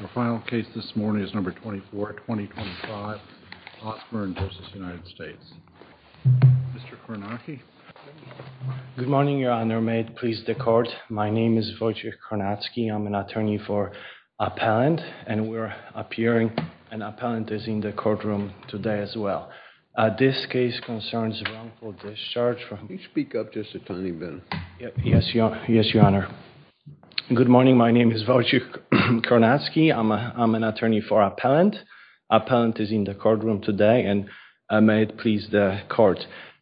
The final case this morning is number 24, 2025 Osburn v. United States. Mr. Kornacki. Good morning, your honor. May it please the court. My name is Wojciech Kornacki. I'm an attorney for appellant and we're appearing. An appellant is in the courtroom today as well. This case concerns wrongful discharge from... Can you speak up just a tiny bit? Yes, your honor. Good morning. My name is Wojciech Kornacki. I'm an attorney for appellant. Appellant is in the courtroom today and may it please the court.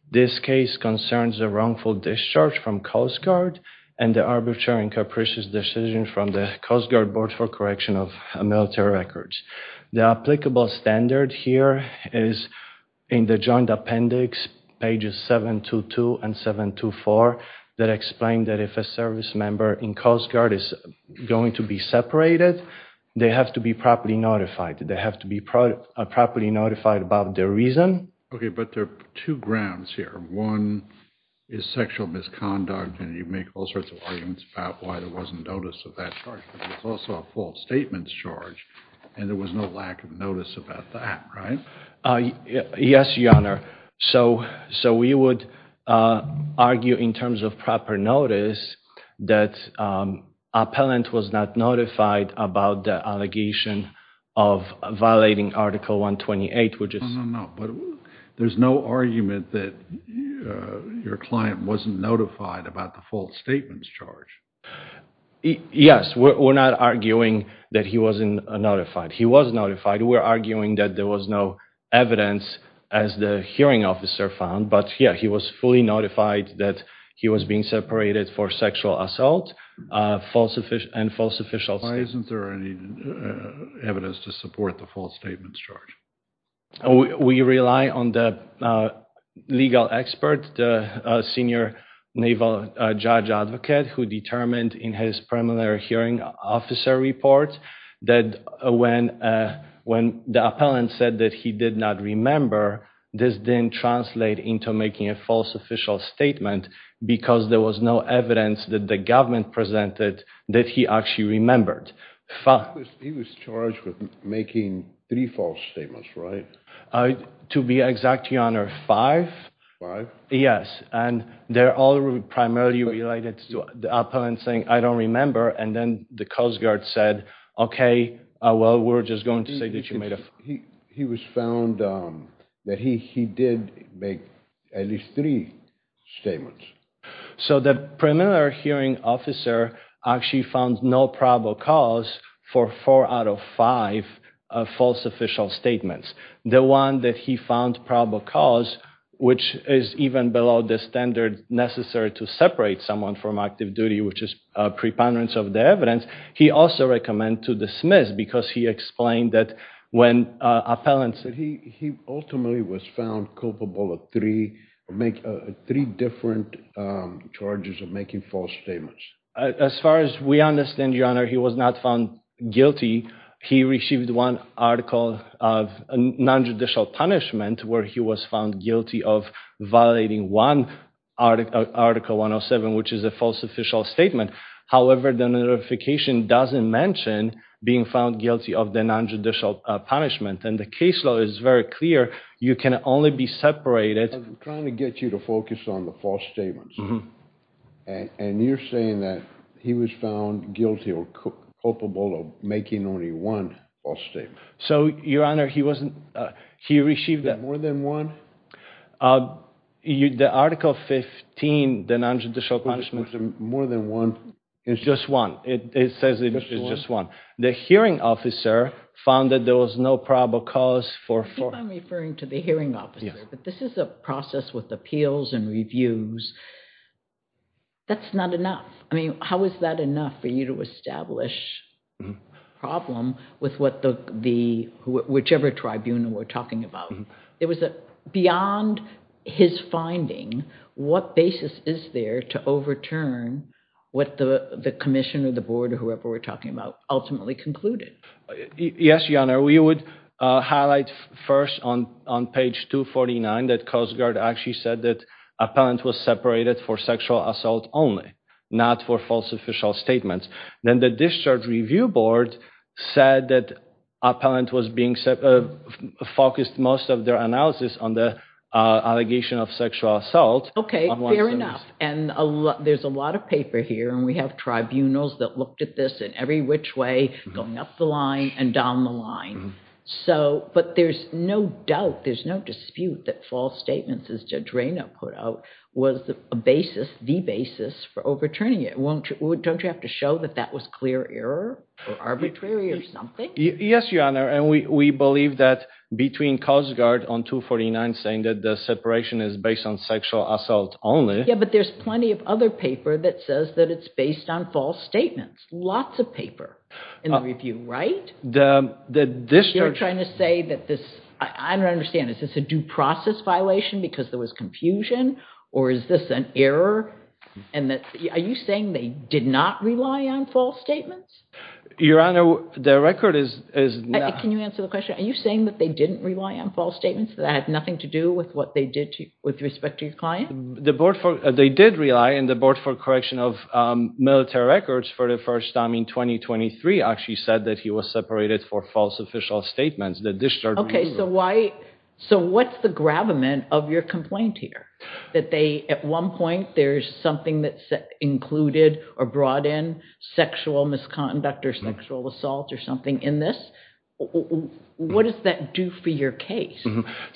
This case concerns a wrongful discharge from Coast Guard and the arbitrary and capricious decision from the Coast Guard Board for correction of military records. The applicable standard here is in the joint appendix pages 722 and 724 that explain that if service member in Coast Guard is going to be separated, they have to be properly notified. They have to be properly notified about the reason. Okay, but there are two grounds here. One is sexual misconduct and you make all sorts of arguments about why there wasn't notice of that charge, but it's also a false statements charge and there was no lack of notice about that, right? Yes, your honor. So we would argue in terms of proper notice that appellant was not notified about the allegation of violating article 128, which is... No, no, no, but there's no argument that your client wasn't notified about the false statements charge. Yes, we're not arguing that he wasn't notified. He was notified. We're arguing that there was no evidence as the hearing officer found, but yeah, he was fully notified that he was being separated for sexual assault and false official... Why isn't there any evidence to support the false statements charge? We rely on the legal expert, the senior naval judge advocate who determined in his preliminary hearing officer report that when the appellant said that he did not remember, this didn't translate into making a false official statement because there was no evidence that the government presented that he actually remembered. He was charged with making three false statements, right? To be exact, your honor, five. Five? Yes, and they're all primarily related to the I don't remember and then the Coast Guard said, okay, well, we're just going to say that you made a... He was found that he did make at least three statements. So the preliminary hearing officer actually found no probable cause for four out of five false official statements. The one that he found probable cause, which is even below the standard necessary to separate someone from active duty, which is a preponderance of the evidence, he also recommend to dismiss because he explained that when appellants... He ultimately was found culpable of three different charges of making false statements. As far as we understand, your honor, he was not found guilty. He received one article of non-judicial punishment where he was found guilty of violating one article 107, which is a false official statement. However, the notification doesn't mention being found guilty of the non-judicial punishment and the case law is very clear. You can only be separated... I'm trying to get you to focus on the false statements and you're saying that he was found guilty or culpable of making only one false statement. So, your honor, he received... More than one? The article 15, the non-judicial punishment... More than one? It's just one. It says it's just one. The hearing officer found that there was no probable cause for... I think I'm referring to the hearing officer, but this is a process with appeals and reviews. That's not enough. I mean, how is that enough for you to establish a problem with whichever tribunal we're talking about? It was beyond his finding, what basis is there to overturn what the commission or the board or whoever we're talking about ultimately concluded? Yes, your honor. We would highlight first on page 249 that Coast Guard actually said that Appellant was separated for sexual assault only, not for false official statements. Then the Discharge Review Board said that Appellant was being focused most of their analysis on the allegation of sexual assault. Okay, fair enough. And there's a lot of paper here and we have tribunals that looked at this in every which way, going up the line and down the line. But there's no doubt, there's no dispute that false statements, as Judge Rayna put out, was the basis for overturning it. Don't you have to show that that was clear error or arbitrary or something? Yes, your honor. And we believe that between Coast Guard on 249 saying that the separation is based on sexual assault only. Yeah, but there's plenty of other paper that says that it's based on false statements. Lots of paper in the review, right? You're trying to say that this, I don't understand, is this a due process violation because there was confusion or is this an error? Are you saying they did not rely on false statements? Your honor, the record is... Can you answer the question? Are you saying that they didn't rely on false statements that had nothing to do with what they did with respect to your client? They did rely and the Board for Correction of Military Records for the first time in 2023 actually said that he was separated for false official statements. Okay, so why, so what's the gravamen of your complaint here? That they, at one point, there's something that's included or brought in sexual misconduct or sexual assault or something in this? What does that do for your case?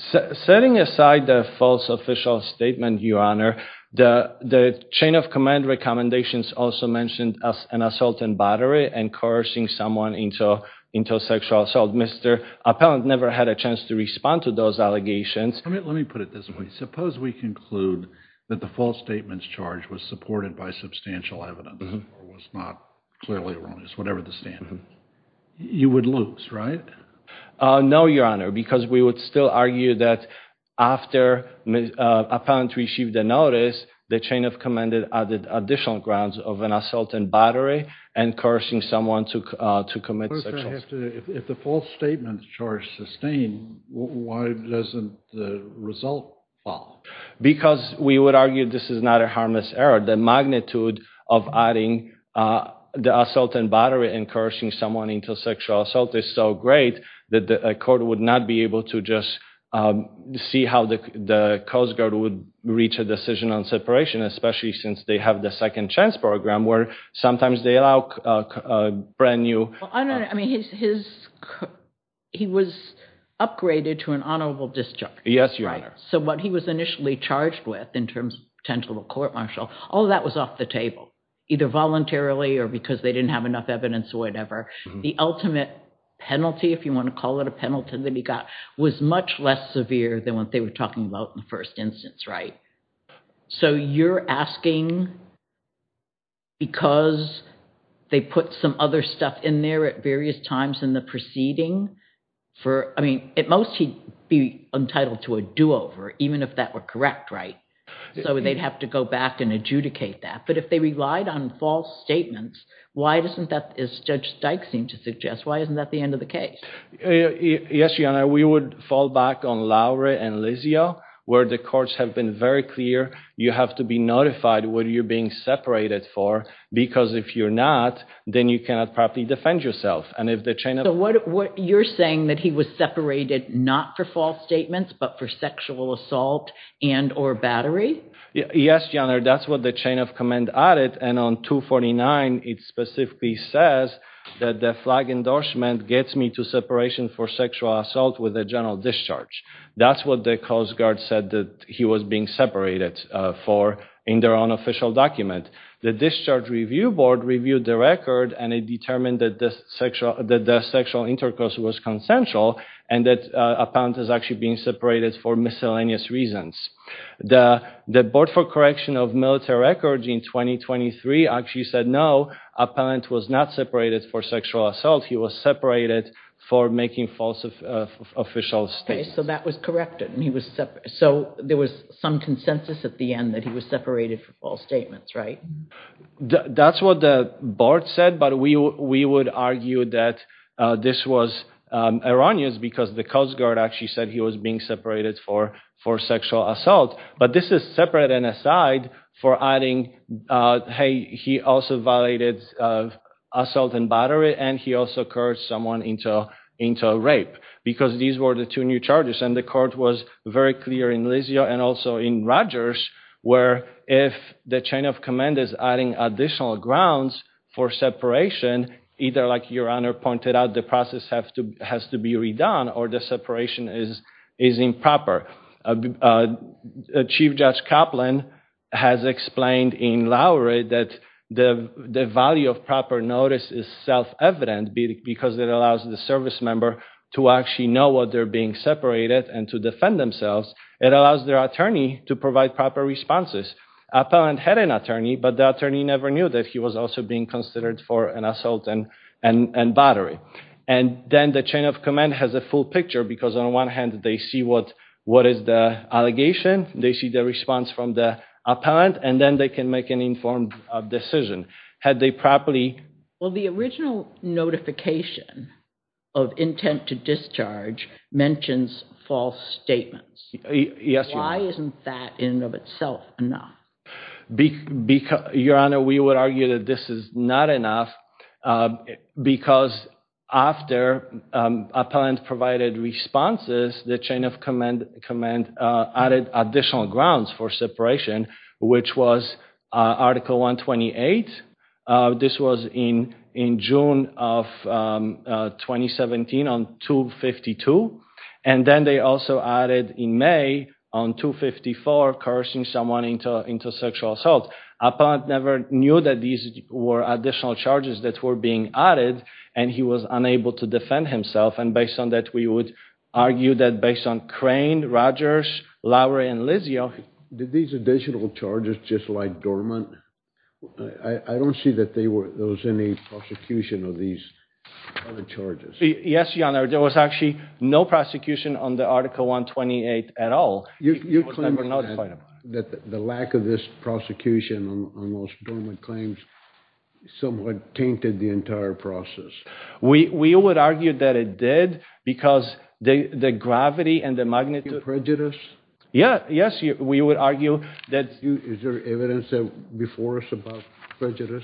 Setting aside the false official statement, your honor, the chain of command recommendations also mentioned as an assault and battery and coercing someone into sexual assault. Mr. Appellant never had a chance to respond to those allegations. Let me put it this way. Suppose we conclude that the false statements charge was supported by substantial evidence or was not clearly erroneous, whatever the standard, you would lose, right? No, your honor, because we would still argue that after Appellant received the notice, the chain of command added additional grounds of an assault and battery and coercing someone to commit sexual assault. If the false statements charge sustained, why doesn't the result fall? Because we would argue this is not a harmless error. The magnitude of adding the assault and battery and coercing someone into sexual assault is so great that the court would not be able to just see how the Coast Guard would reach a decision on separation, especially since they have the second chance program where sometimes they allow a brand new... I mean, his... He was upgraded to an honorable discharge. Yes, your honor. So what he was initially charged with in terms of potential court-martial, all that was off the table, either voluntarily or because they didn't have enough evidence or whatever. The ultimate penalty, if you want to call it a penalty that he got, was much less severe than what they were talking about in the first instance, right? So you're asking because they put some other stuff in there at various times in the proceeding for... I mean, at most, he'd be entitled to a do-over, even if that were correct, right? So they'd have to go back and adjudicate that. But if they relied on false statements, why doesn't that, as Judge Stike seemed to suggest, why isn't that the end of the case? Yes, your honor. We would fall back on Lowry and Lizio, where the courts have been very clear, you have to be notified what you're being separated for, because if you're not, then you cannot properly defend yourself. So you're saying that he was separated not for false statements, but for sexual assault and or battery? Yes, your honor. That's what the chain of command added. And on 249, it specifically says that the flag endorsement gets me to separation for sexual assault with a general discharge. That's what the Coast Guard said that he was being separated for in their own official document. The Discharge Review Board reviewed the record, and it determined that the sexual intercourse was consensual, and that appellant is actually being separated for miscellaneous reasons. The Board for Correction of Military Records in 2023 actually said no, appellant was not separated for sexual assault, he was separated for making false official statements. Okay, so that was corrected. So there was some consensus at the end that he was separated for false statements, right? That's what the Board said, but we would argue that this was erroneous, because the Coast Guard actually said he was being separated for sexual assault. But this is separate and aside for adding hey, he also violated assault and battery, and he also cursed someone into rape, because these were the two new charges. And the court was very clear in Lisio and also in Rogers, where if the chain of command is adding additional grounds for separation, either like your honor pointed out, the process has to be redone, or the separation is improper. Chief Judge Kaplan has explained in Lowry that the value of proper notice is self-evident, because it allows the service member to actually know what they're being separated and to defend themselves. It allows their attorney to provide proper responses. Appellant had an attorney, but the attorney never knew that he was also being considered for an assault and battery. And then the chain of command has a full picture, because on one hand they see what is the allegation, they see the response from the appellant, and then they can make an informed decision. Well, the original notification of intent to discharge mentions false statements. Why isn't that in and of itself enough? Your honor, we would argue that this is not enough, because after appellant provided responses, the chain of command added additional grounds for separation, which was Article 128. This was in June of 2017 on 252, and then they also added in May on 254, cursing someone into sexual assault. Appellant never knew that these were additional charges that were being added, and he was unable to defend himself. And based on that, we would argue that based on Crane, Rogers, Lowery, and Lizio... Did these additional charges just lie dormant? I don't see that there was any prosecution of these other charges. Yes, your honor, there was actually no prosecution on the Article 128 at all. You claim that the lack of this prosecution on those dormant claims somewhat tainted the entire process. We would argue that it did, because the gravity and the magnitude... Prejudice? Yeah, yes, we would argue that... Is there evidence before us about prejudice?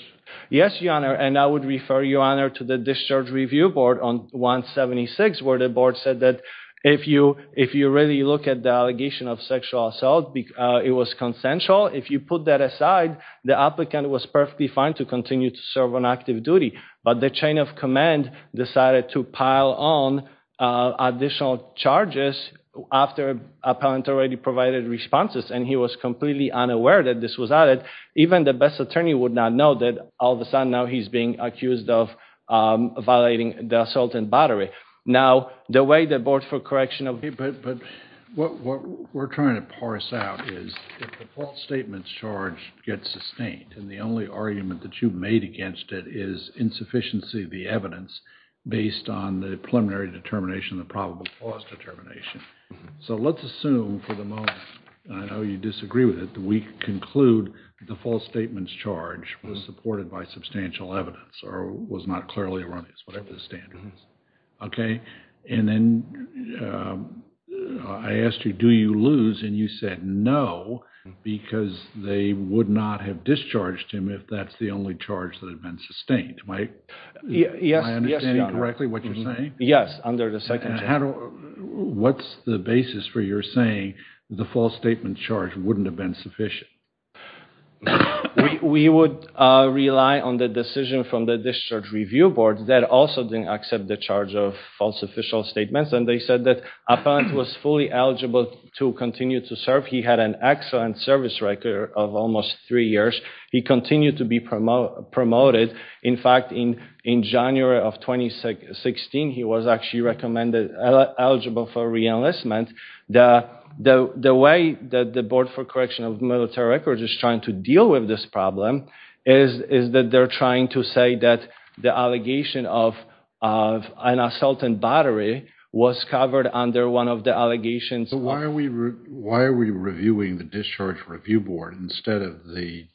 Yes, your honor, and I would refer your honor to the Discharge Review Board on 176, where the board said that if you really look at the of sexual assault, it was consensual. If you put that aside, the applicant was perfectly fine to continue to serve on active duty, but the chain of command decided to pile on additional charges after appellant already provided responses, and he was completely unaware that this was added. Even the best attorney would not know that all of a sudden now he's being accused of violating the assault and battery. Now, the way the board for correctional... Okay, but what we're trying to parse out is if the false statements charge gets sustained, and the only argument that you made against it is insufficiency of the evidence based on the preliminary determination, the probable cause determination. So, let's assume for the moment, I know you disagree with it, that we conclude the false statements charge was supported by substantial evidence, or was not clearly erroneous, whatever the standard is. Okay, and then I asked you, do you lose, and you said no, because they would not have discharged him if that's the only charge that had been sustained. Am I understanding correctly what you're saying? Yes, under the second... What's the basis for your saying the false statement charge wouldn't have been sufficient? We would rely on the decision from the discharge review board that also didn't accept the charge of false official statements, and they said that appellant was fully eligible to continue to serve. He had an excellent service record of almost three years. He continued to be promoted. In fact, in January of 2016, he was actually recommended eligible for re-enlistment. The way that the board for correction of military records is trying to deal with this problem is that they're trying to say that the allegation of an assault and battery was covered under one of the allegations. Why are we reviewing the discharge review board instead of the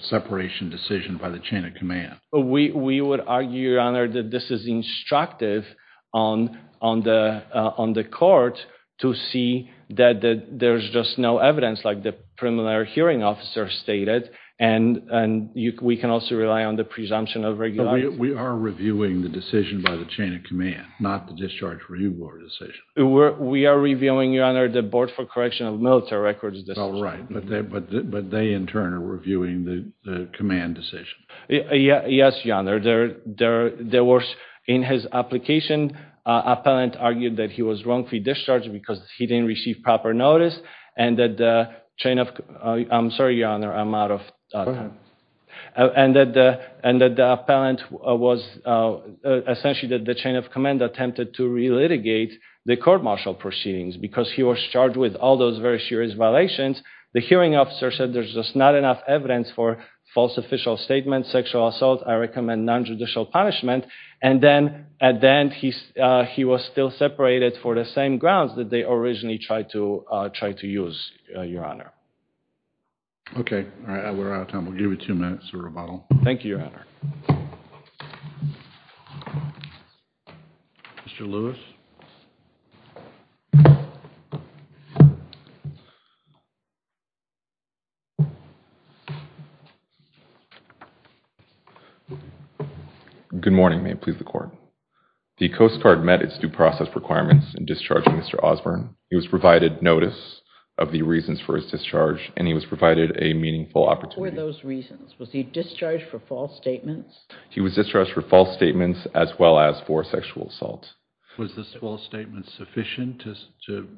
separation decision by the chain of command? We would argue, your honor, that this is instructive on the court to see that there's just no evidence like the preliminary hearing officer stated, and we can also rely on the presumption of regularity. We are reviewing the decision by the chain of command, not the discharge review board decision. We are reviewing, your honor, the board for correction of military records. All right, but they in turn are reviewing the decision. Yes, your honor. In his application, appellant argued that he was wrongfully discharged because he didn't receive proper notice. I'm sorry, your honor, I'm out of time. The appellant was essentially that the chain of command attempted to re-litigate the court martial proceedings because he was charged with all those very serious violations. The hearing officer said there's just not enough evidence for false official statements, sexual assault, I recommend non-judicial punishment, and then at the end he was still separated for the same grounds that they originally tried to use, your honor. Okay, all right, we're out of time. We'll give you two minutes to rebuttal. Thank you, your honor. Mr. Lewis. Good morning, may it please the court. The Coast Guard met its due process requirements in discharging Mr. Osborne. He was provided notice of the reasons for his discharge, and he was provided a meaningful opportunity. What were those reasons? Was he discharged for false statements? He was discharged for false statements as well as for sexual assault. Was this false statement sufficient to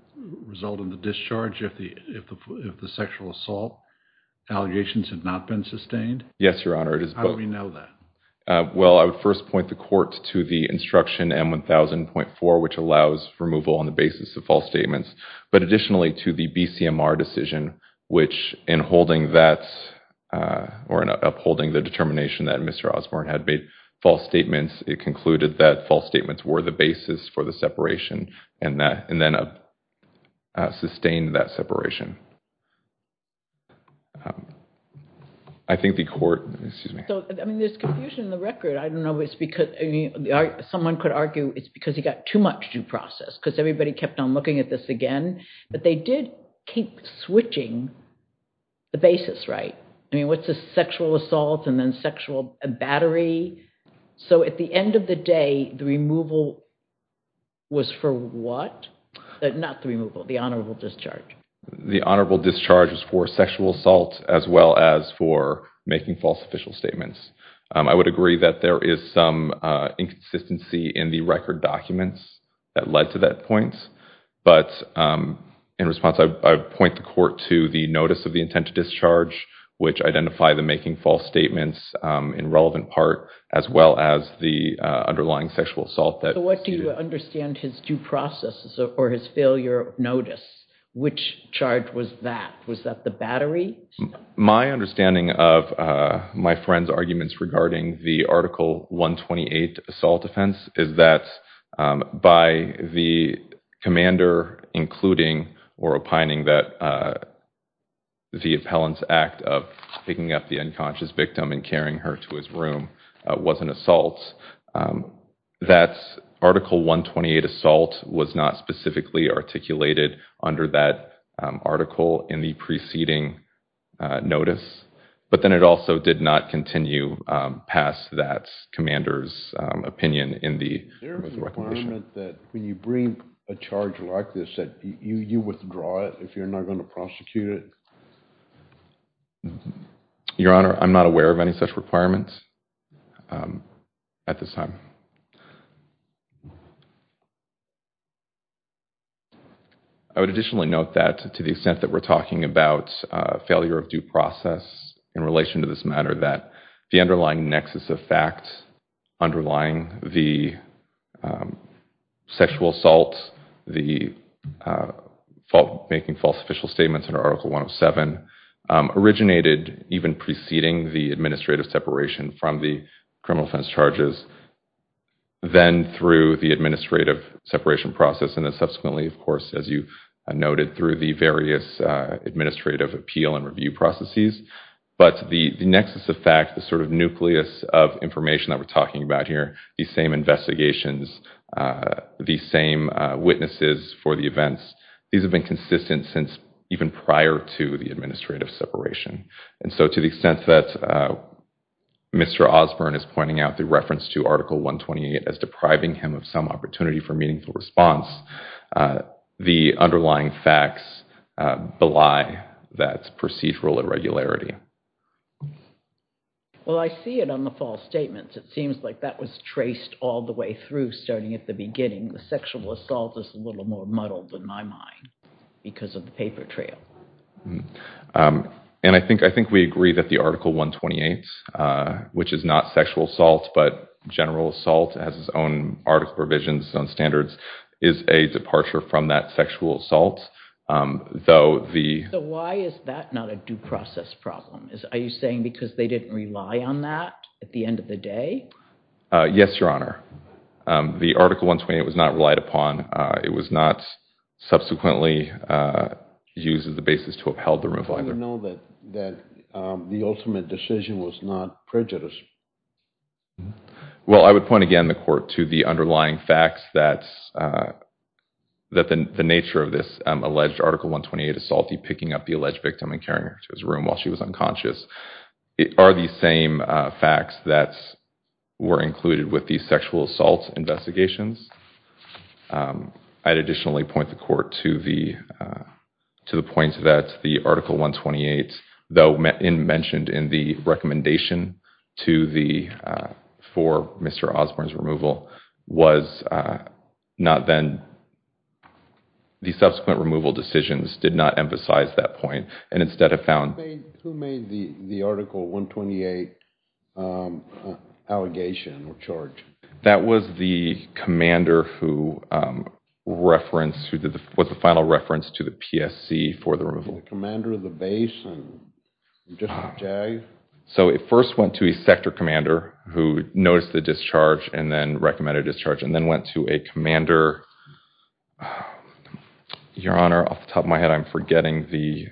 result in the discharge if the sexual assault allegations had not been sustained? Yes, your honor. How do we know that? Well, I would first point the court to the instruction M1000.4, which allows removal on the basis of false statements, but additionally to the BCMR decision, which in holding that, or in upholding the determination that Mr. Osborne had made false statements, it concluded that false statements were the basis for the separation, and then sustained that separation. I think the court, excuse me. I mean, there's confusion in the record. I don't know if it's because, I mean, someone could argue it's because he got too much due process, because everybody kept on looking at this again, but they did keep switching the basis, right? I mean, what's a sexual assault and then sexual battery? So, at the end of the day, the removal was for what? Not the removal, the honorable discharge. The honorable discharge was for sexual assault as well as for making false official statements. I would agree that there is some inconsistency in the record documents that led to that point, but in response, I would point the court to the notice of the intent to discharge, which identify the making false statements in relevant part, as well as the underlying sexual assault. What do you understand his due processes or his failure of notice? Which charge was that? Was that the battery? My understanding of my friend's arguments regarding the Article 128 assault offense is that by the commander including or opining that the appellant's act of picking up the unconscious victim and carrying her to his room was an assault, that Article 128 assault was not articulated under that article in the preceding notice, but then it also did not continue past that commander's opinion in the recommendation. Is there a requirement that when you bring a charge like this that you withdraw it if you're not going to prosecute it? Your Honor, I'm not aware of any such requirements at this time. I would additionally note that to the extent that we're talking about failure of due process in relation to this matter, that the underlying nexus of fact, underlying the sexual assault, the making false official statements under Article 107, originated even preceding the administrative separation from the criminal offense charges, then through the administrative separation process, and then subsequently, of course, as you noted, through the various administrative appeal and review processes. But the nexus of fact, the sort of nucleus of information that we're talking about here, the same investigations, the same witnesses for the events, these have been consistent since even prior to the administrative separation. And so to the extent that Mr. Osborne is pointing out the reference to Article 128 as depriving him some opportunity for meaningful response, the underlying facts belie that procedural irregularity. Well, I see it on the false statements. It seems like that was traced all the way through, starting at the beginning. The sexual assault is a little more muddled in my mind because of the paper trail. And I think we agree that the Article 128, which is not sexual assault, but general assault, has its own article provisions, its own standards, is a departure from that sexual assault. So why is that not a due process problem? Are you saying because they didn't rely on that at the end of the day? Yes, Your Honor. The Article 128 was not relied upon. It was not subsequently used as the basis to upheld the removal either. Do you know that the ultimate decision was not prejudice? Well, I would point again, the Court, to the underlying facts that the nature of this alleged Article 128 assault, the picking up the alleged victim and carrying her to his room while she was unconscious, are the same facts that were included with the sexual assault investigations. I'd additionally point the Court to the point that the Article 128, though mentioned in the recommendation for Mr. Osborne's removal, was not then, the subsequent removal decisions did not emphasize that point and instead have found... Who made the Article 128 allegation or charge? That was the commander who referenced, who was the final reference to the PSC for the removal. The commander of the base? So it first went to a sector commander who noticed the discharge and then recommended a discharge and then went to a commander... Your Honor, off the top of my head, I'm forgetting the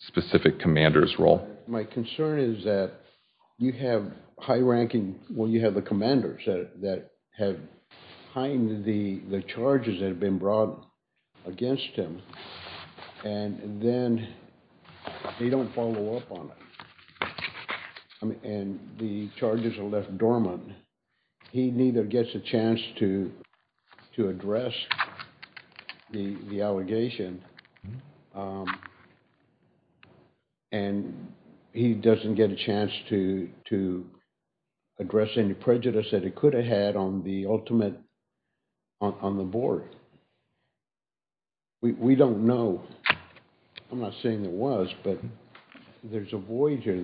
specific commander's role. My concern is that you have high-ranking... Well, you have the commanders that have behind the charges that have been brought against him and then they don't follow up on it and the charges are left dormant. He neither gets a chance to address the allegation and he doesn't get a chance to address any prejudice that he could have had on the ultimate, on the board. We don't know. I'm not saying it was, but there's a voyager.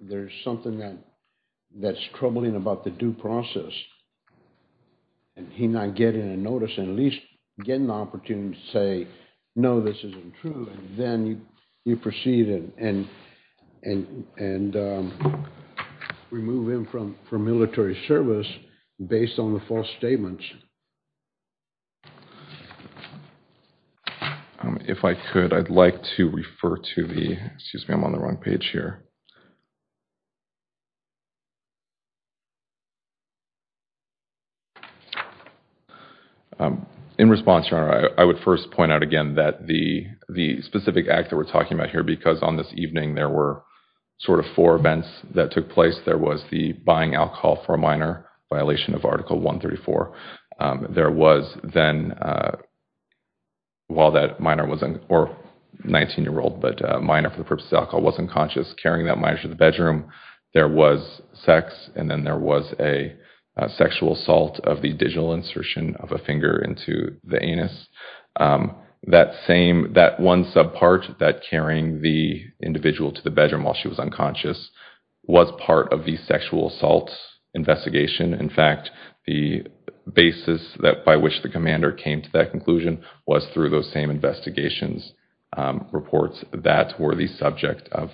There's something that's troubling about the due process. And he not getting a notice and at least getting the opportunity to say, no, this isn't true. And then you proceed and remove him from military service based on the false statements. If I could, I'd like to refer to the... Excuse me, I'm on the wrong page here. In response, Your Honor, I would first point out again that the specific act that we're talking about here, because on this evening there were sort of four events that took place. There was the buying alcohol for a minor, violation of Article 134. There was then, while that minor wasn't... Or 19-year-old, but minor for the purpose of alcohol wasn't conscious, carrying that minor to the bedroom. There was sex and then there was a sexual assault of the digital insertion of a finger into the anus. That same, that one sub part, that carrying the individual to the bedroom while she was unconscious was part of the sexual assault investigation. In fact, the basis by which the commander came to that conclusion was through those same investigations reports that were the subject of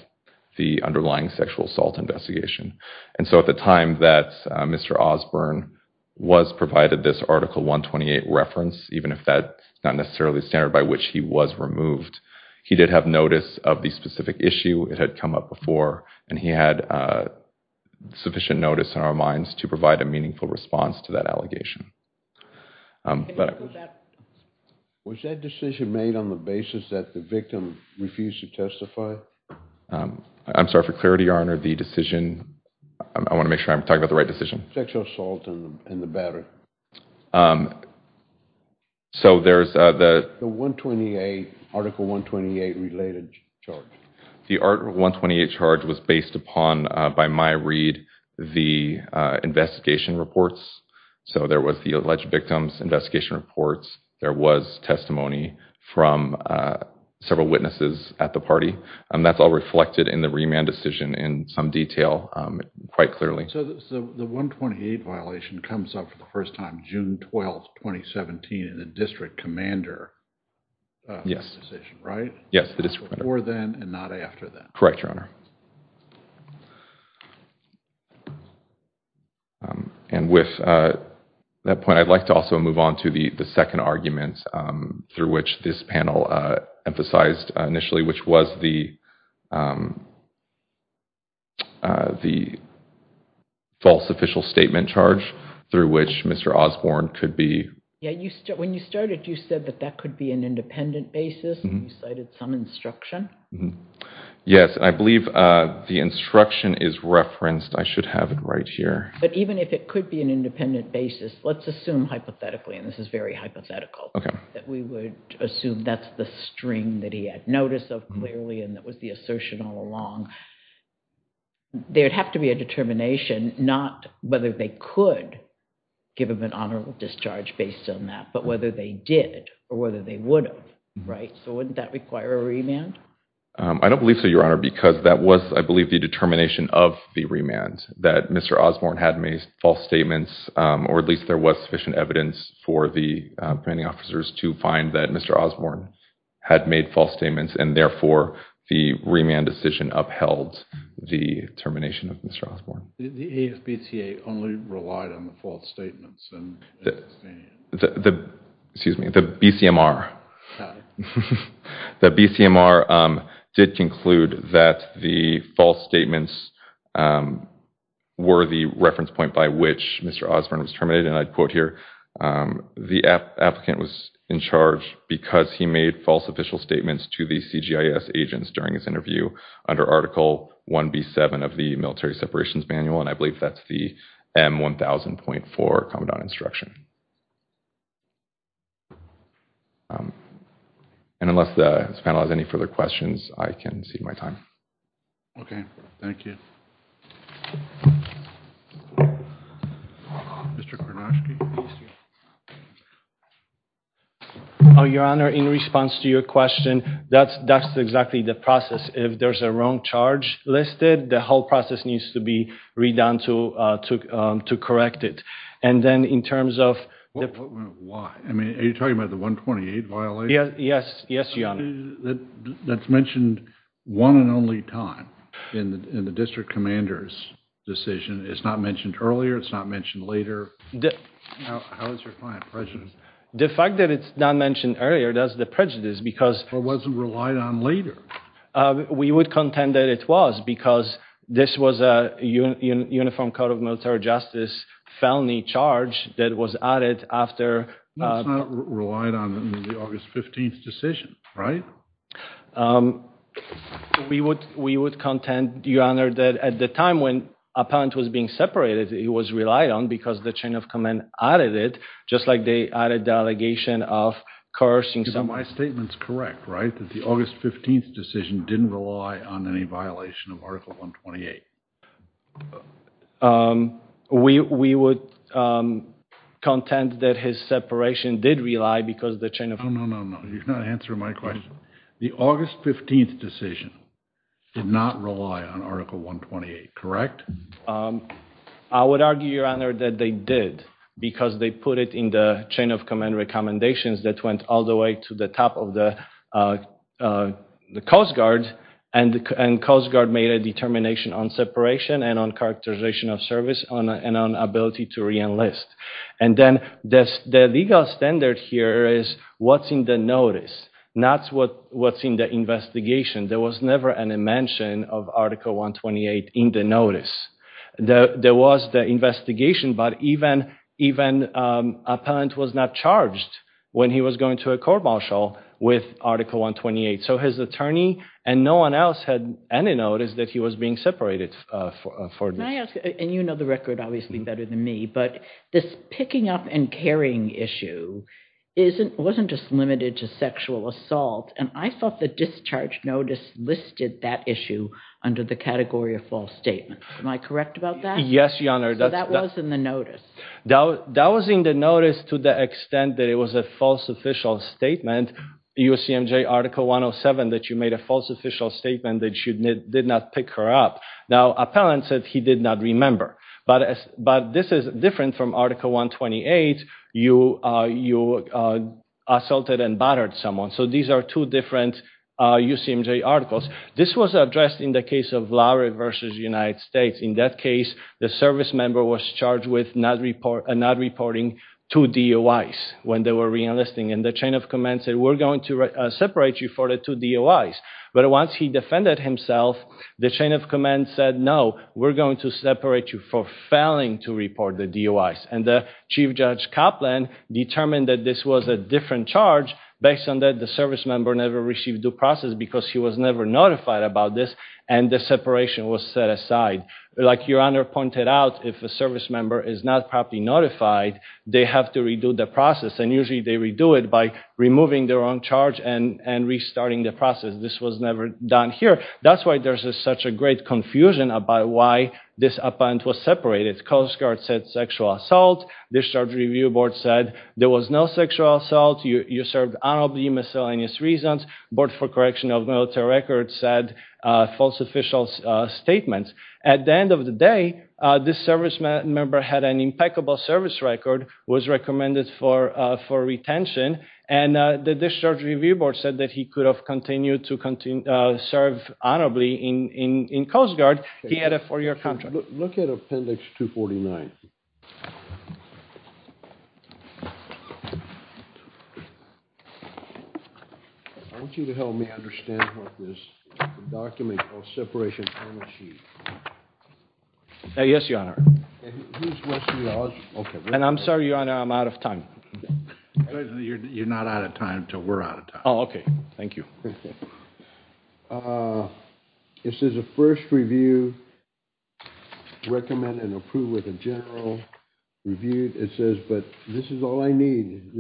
the underlying sexual assault investigation. So at the time that Mr. Osborne was provided this Article 128 reference, even if that's not necessarily the standard by which he was removed, he did have notice of the specific issue. It had come up before and he had sufficient notice in our minds to provide a meaningful response to that allegation. Was that decision made on the basis that the victim refused to testify? I'm sorry for clarity, Your Honor. The decision... I want to make sure I'm talking about the right decision. Sexual assault in the battery. So there's the... The 128, Article 128 related charge. The Article 128 charge was based upon, by my read, the investigation reports. So there was the alleged victims investigation reports. There was testimony from several witnesses at the party. And that's all reflected in the remand decision in some detail quite clearly. So the 128 violation comes up for the first time, June 12, 2017, in the district commander decision, right? Yes. Before then and not after that. Correct, Your Honor. And with that point, I'd like to also move on to the second argument through which this panel emphasized initially, which was the false official statement charge, through which Mr. Osborne could be... Yeah, when you started, you said that that could be an independent basis. You cited some instruction. Yes, I believe the instruction is referenced. I should have it right here. But even if it could be an independent basis, let's assume hypothetically, and this is very hypothetical, that we would assume that's the string that he had notice of clearly, and that was the assertion all along. There'd have to be a determination, not whether they could give him an honorable discharge based on that, but whether they did, or whether they would have, right? So wouldn't that require a remand? I don't believe so, Your Honor, because that was, I believe, the determination of the remand, that Mr. Osborne had made false statements, or at least there was sufficient evidence for the officers to find that Mr. Osborne had made false statements, and therefore, the remand decision upheld the termination of Mr. Osborne. The AFBTA only relied on the false statements. The, excuse me, the BCMR. The BCMR did conclude that the false statements were the reference point by which Mr. Osborne was terminated, and I'd quote here, the applicant was in charge because he made false official statements to the CGIS agents during his interview under Article 1B7 of the Military Separations Manual, and I believe that's the M1000.4 Commandant Instruction. And unless this panel has any further questions, I can cede my time. Okay, thank you. Mr. Kornoski. Oh, Your Honor, in response to your question, that's exactly the process. If there's a wrong charge listed, the whole process needs to be redone to correct it, and then in terms of... Why? I mean, are you talking about the 128 violation? Yes, Your Honor. That's mentioned one and only time in the district commander's decision. It's not mentioned earlier, it's not mentioned later. How is your client prejudiced? The fact that it's not mentioned earlier, that's the prejudice, because... Or wasn't relied on later. We would contend that it was, because this was a Uniform Code of Military Justice felony charge that was added after... No, it's not relied on in the August 15th decision, right? We would contend, Your Honor, that at the time when a parent was being separated, it was relied on because the chain of command added it, just like they added the allegation of cursing... So my statement's correct, right? That the August 15th decision didn't rely on any violation of Article 128. We would contend that his separation did rely because the chain of... No, no, no, no, you're not answering my question. The August 15th decision did not rely on Article 128, correct? I would argue, Your Honor, that they did, because they put it in the chain of and Coast Guard made a determination on separation and on characterization of service and on ability to re-enlist. And then the legal standard here is what's in the notice, not what's in the investigation. There was never any mention of Article 128 in the notice. There was the investigation, but even a parent was not charged when he was going to a court-martial with Article 128. So his attorney and no one else had any notice that he was being separated. Can I ask, and you know the record obviously better than me, but this picking up and carrying issue wasn't just limited to sexual assault, and I thought the discharge notice listed that issue under the category of false statements. Am I correct about that? Yes, Your Honor. So that was in the notice. That was in the notice to the extent that it was a false official statement, UCMJ Article 107, that you made a false official statement that you did not pick her up. Now, appellant said he did not remember, but this is different from Article 128, you assaulted and battered someone. So these are two different UCMJ articles. This was addressed in the case of Lowry versus United States. In that case, the service member was charged with not reporting two DOIs when they were reenlisting, and the chain of command said, we're going to separate you for the two DOIs. But once he defended himself, the chain of command said, no, we're going to separate you for failing to report the DOIs, and the Chief Judge Copland determined that this was a different charge based on that the service member never received due process because he was never notified about this, and the separation was set aside. Like Your Honor pointed out, if a service member is not properly notified, they have to redo the process, and usually they redo it by removing their own charge and restarting the process. This was never done here. That's why there's such a great confusion about why this appellant was separated. Coast Guard said sexual assault, Discharge Review Board said there was no sexual assault, you served honorably miscellaneous reasons, Board for Correction of Military Records said false official statements. At the end of the day, this service member had an impeccable service record, was recommended for retention, and the Discharge Review Board said that he could have continued to serve honorably in Coast Guard. He had a four-year contract. Look at Appendix 249. I want you to help me understand what this document called separation on the sheet. Yes, Your Honor. And I'm sorry, Your Honor, I'm out of time. You're not out of time until we're out of time. Oh, okay. Thank you. It says a first review, recommend and approve with a general review. It says, but this is all I need,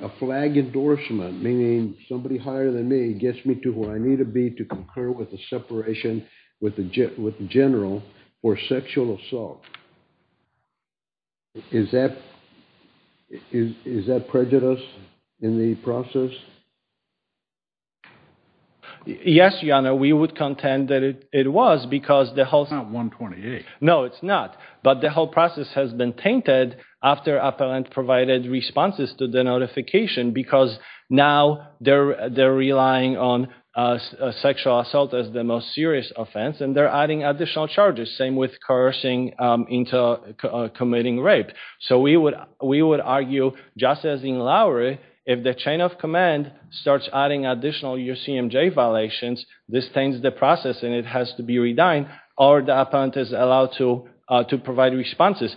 a flag endorsement, meaning somebody higher than me gets me to where I need to be to concur with the separation with the general for sexual assault. Is that prejudice in the process? Yes, Your Honor, we would contend that it was because the whole... It's not 128. No, it's not. But the whole process has been tainted after appellant provided responses to the notification because now they're relying on sexual assault as the most serious offense, and they're adding additional charges, same with coercing into committing rape. So we would argue, just as in Lowry, if the chain of command starts adding additional UCMJ violations, this stains the process and it has to be redined or the appellant is allowed to provide responses.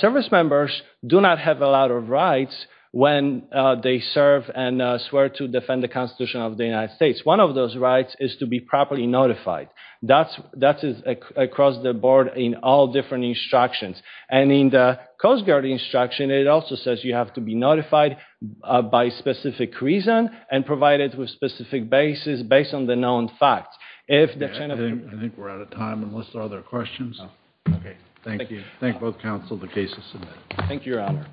Service members do not have a lot of rights when they serve and swear to defend the Constitution of the United States. One of those rights is to be properly notified. That is across the board in all different instructions. And in the Coast Guard instruction, it also says you have to be by specific reason and provided with specific basis based on the known facts. I think we're out of time unless there are other questions. Okay, thank you. Thank both counsel, the case is submitted. Thank you, Your Honor.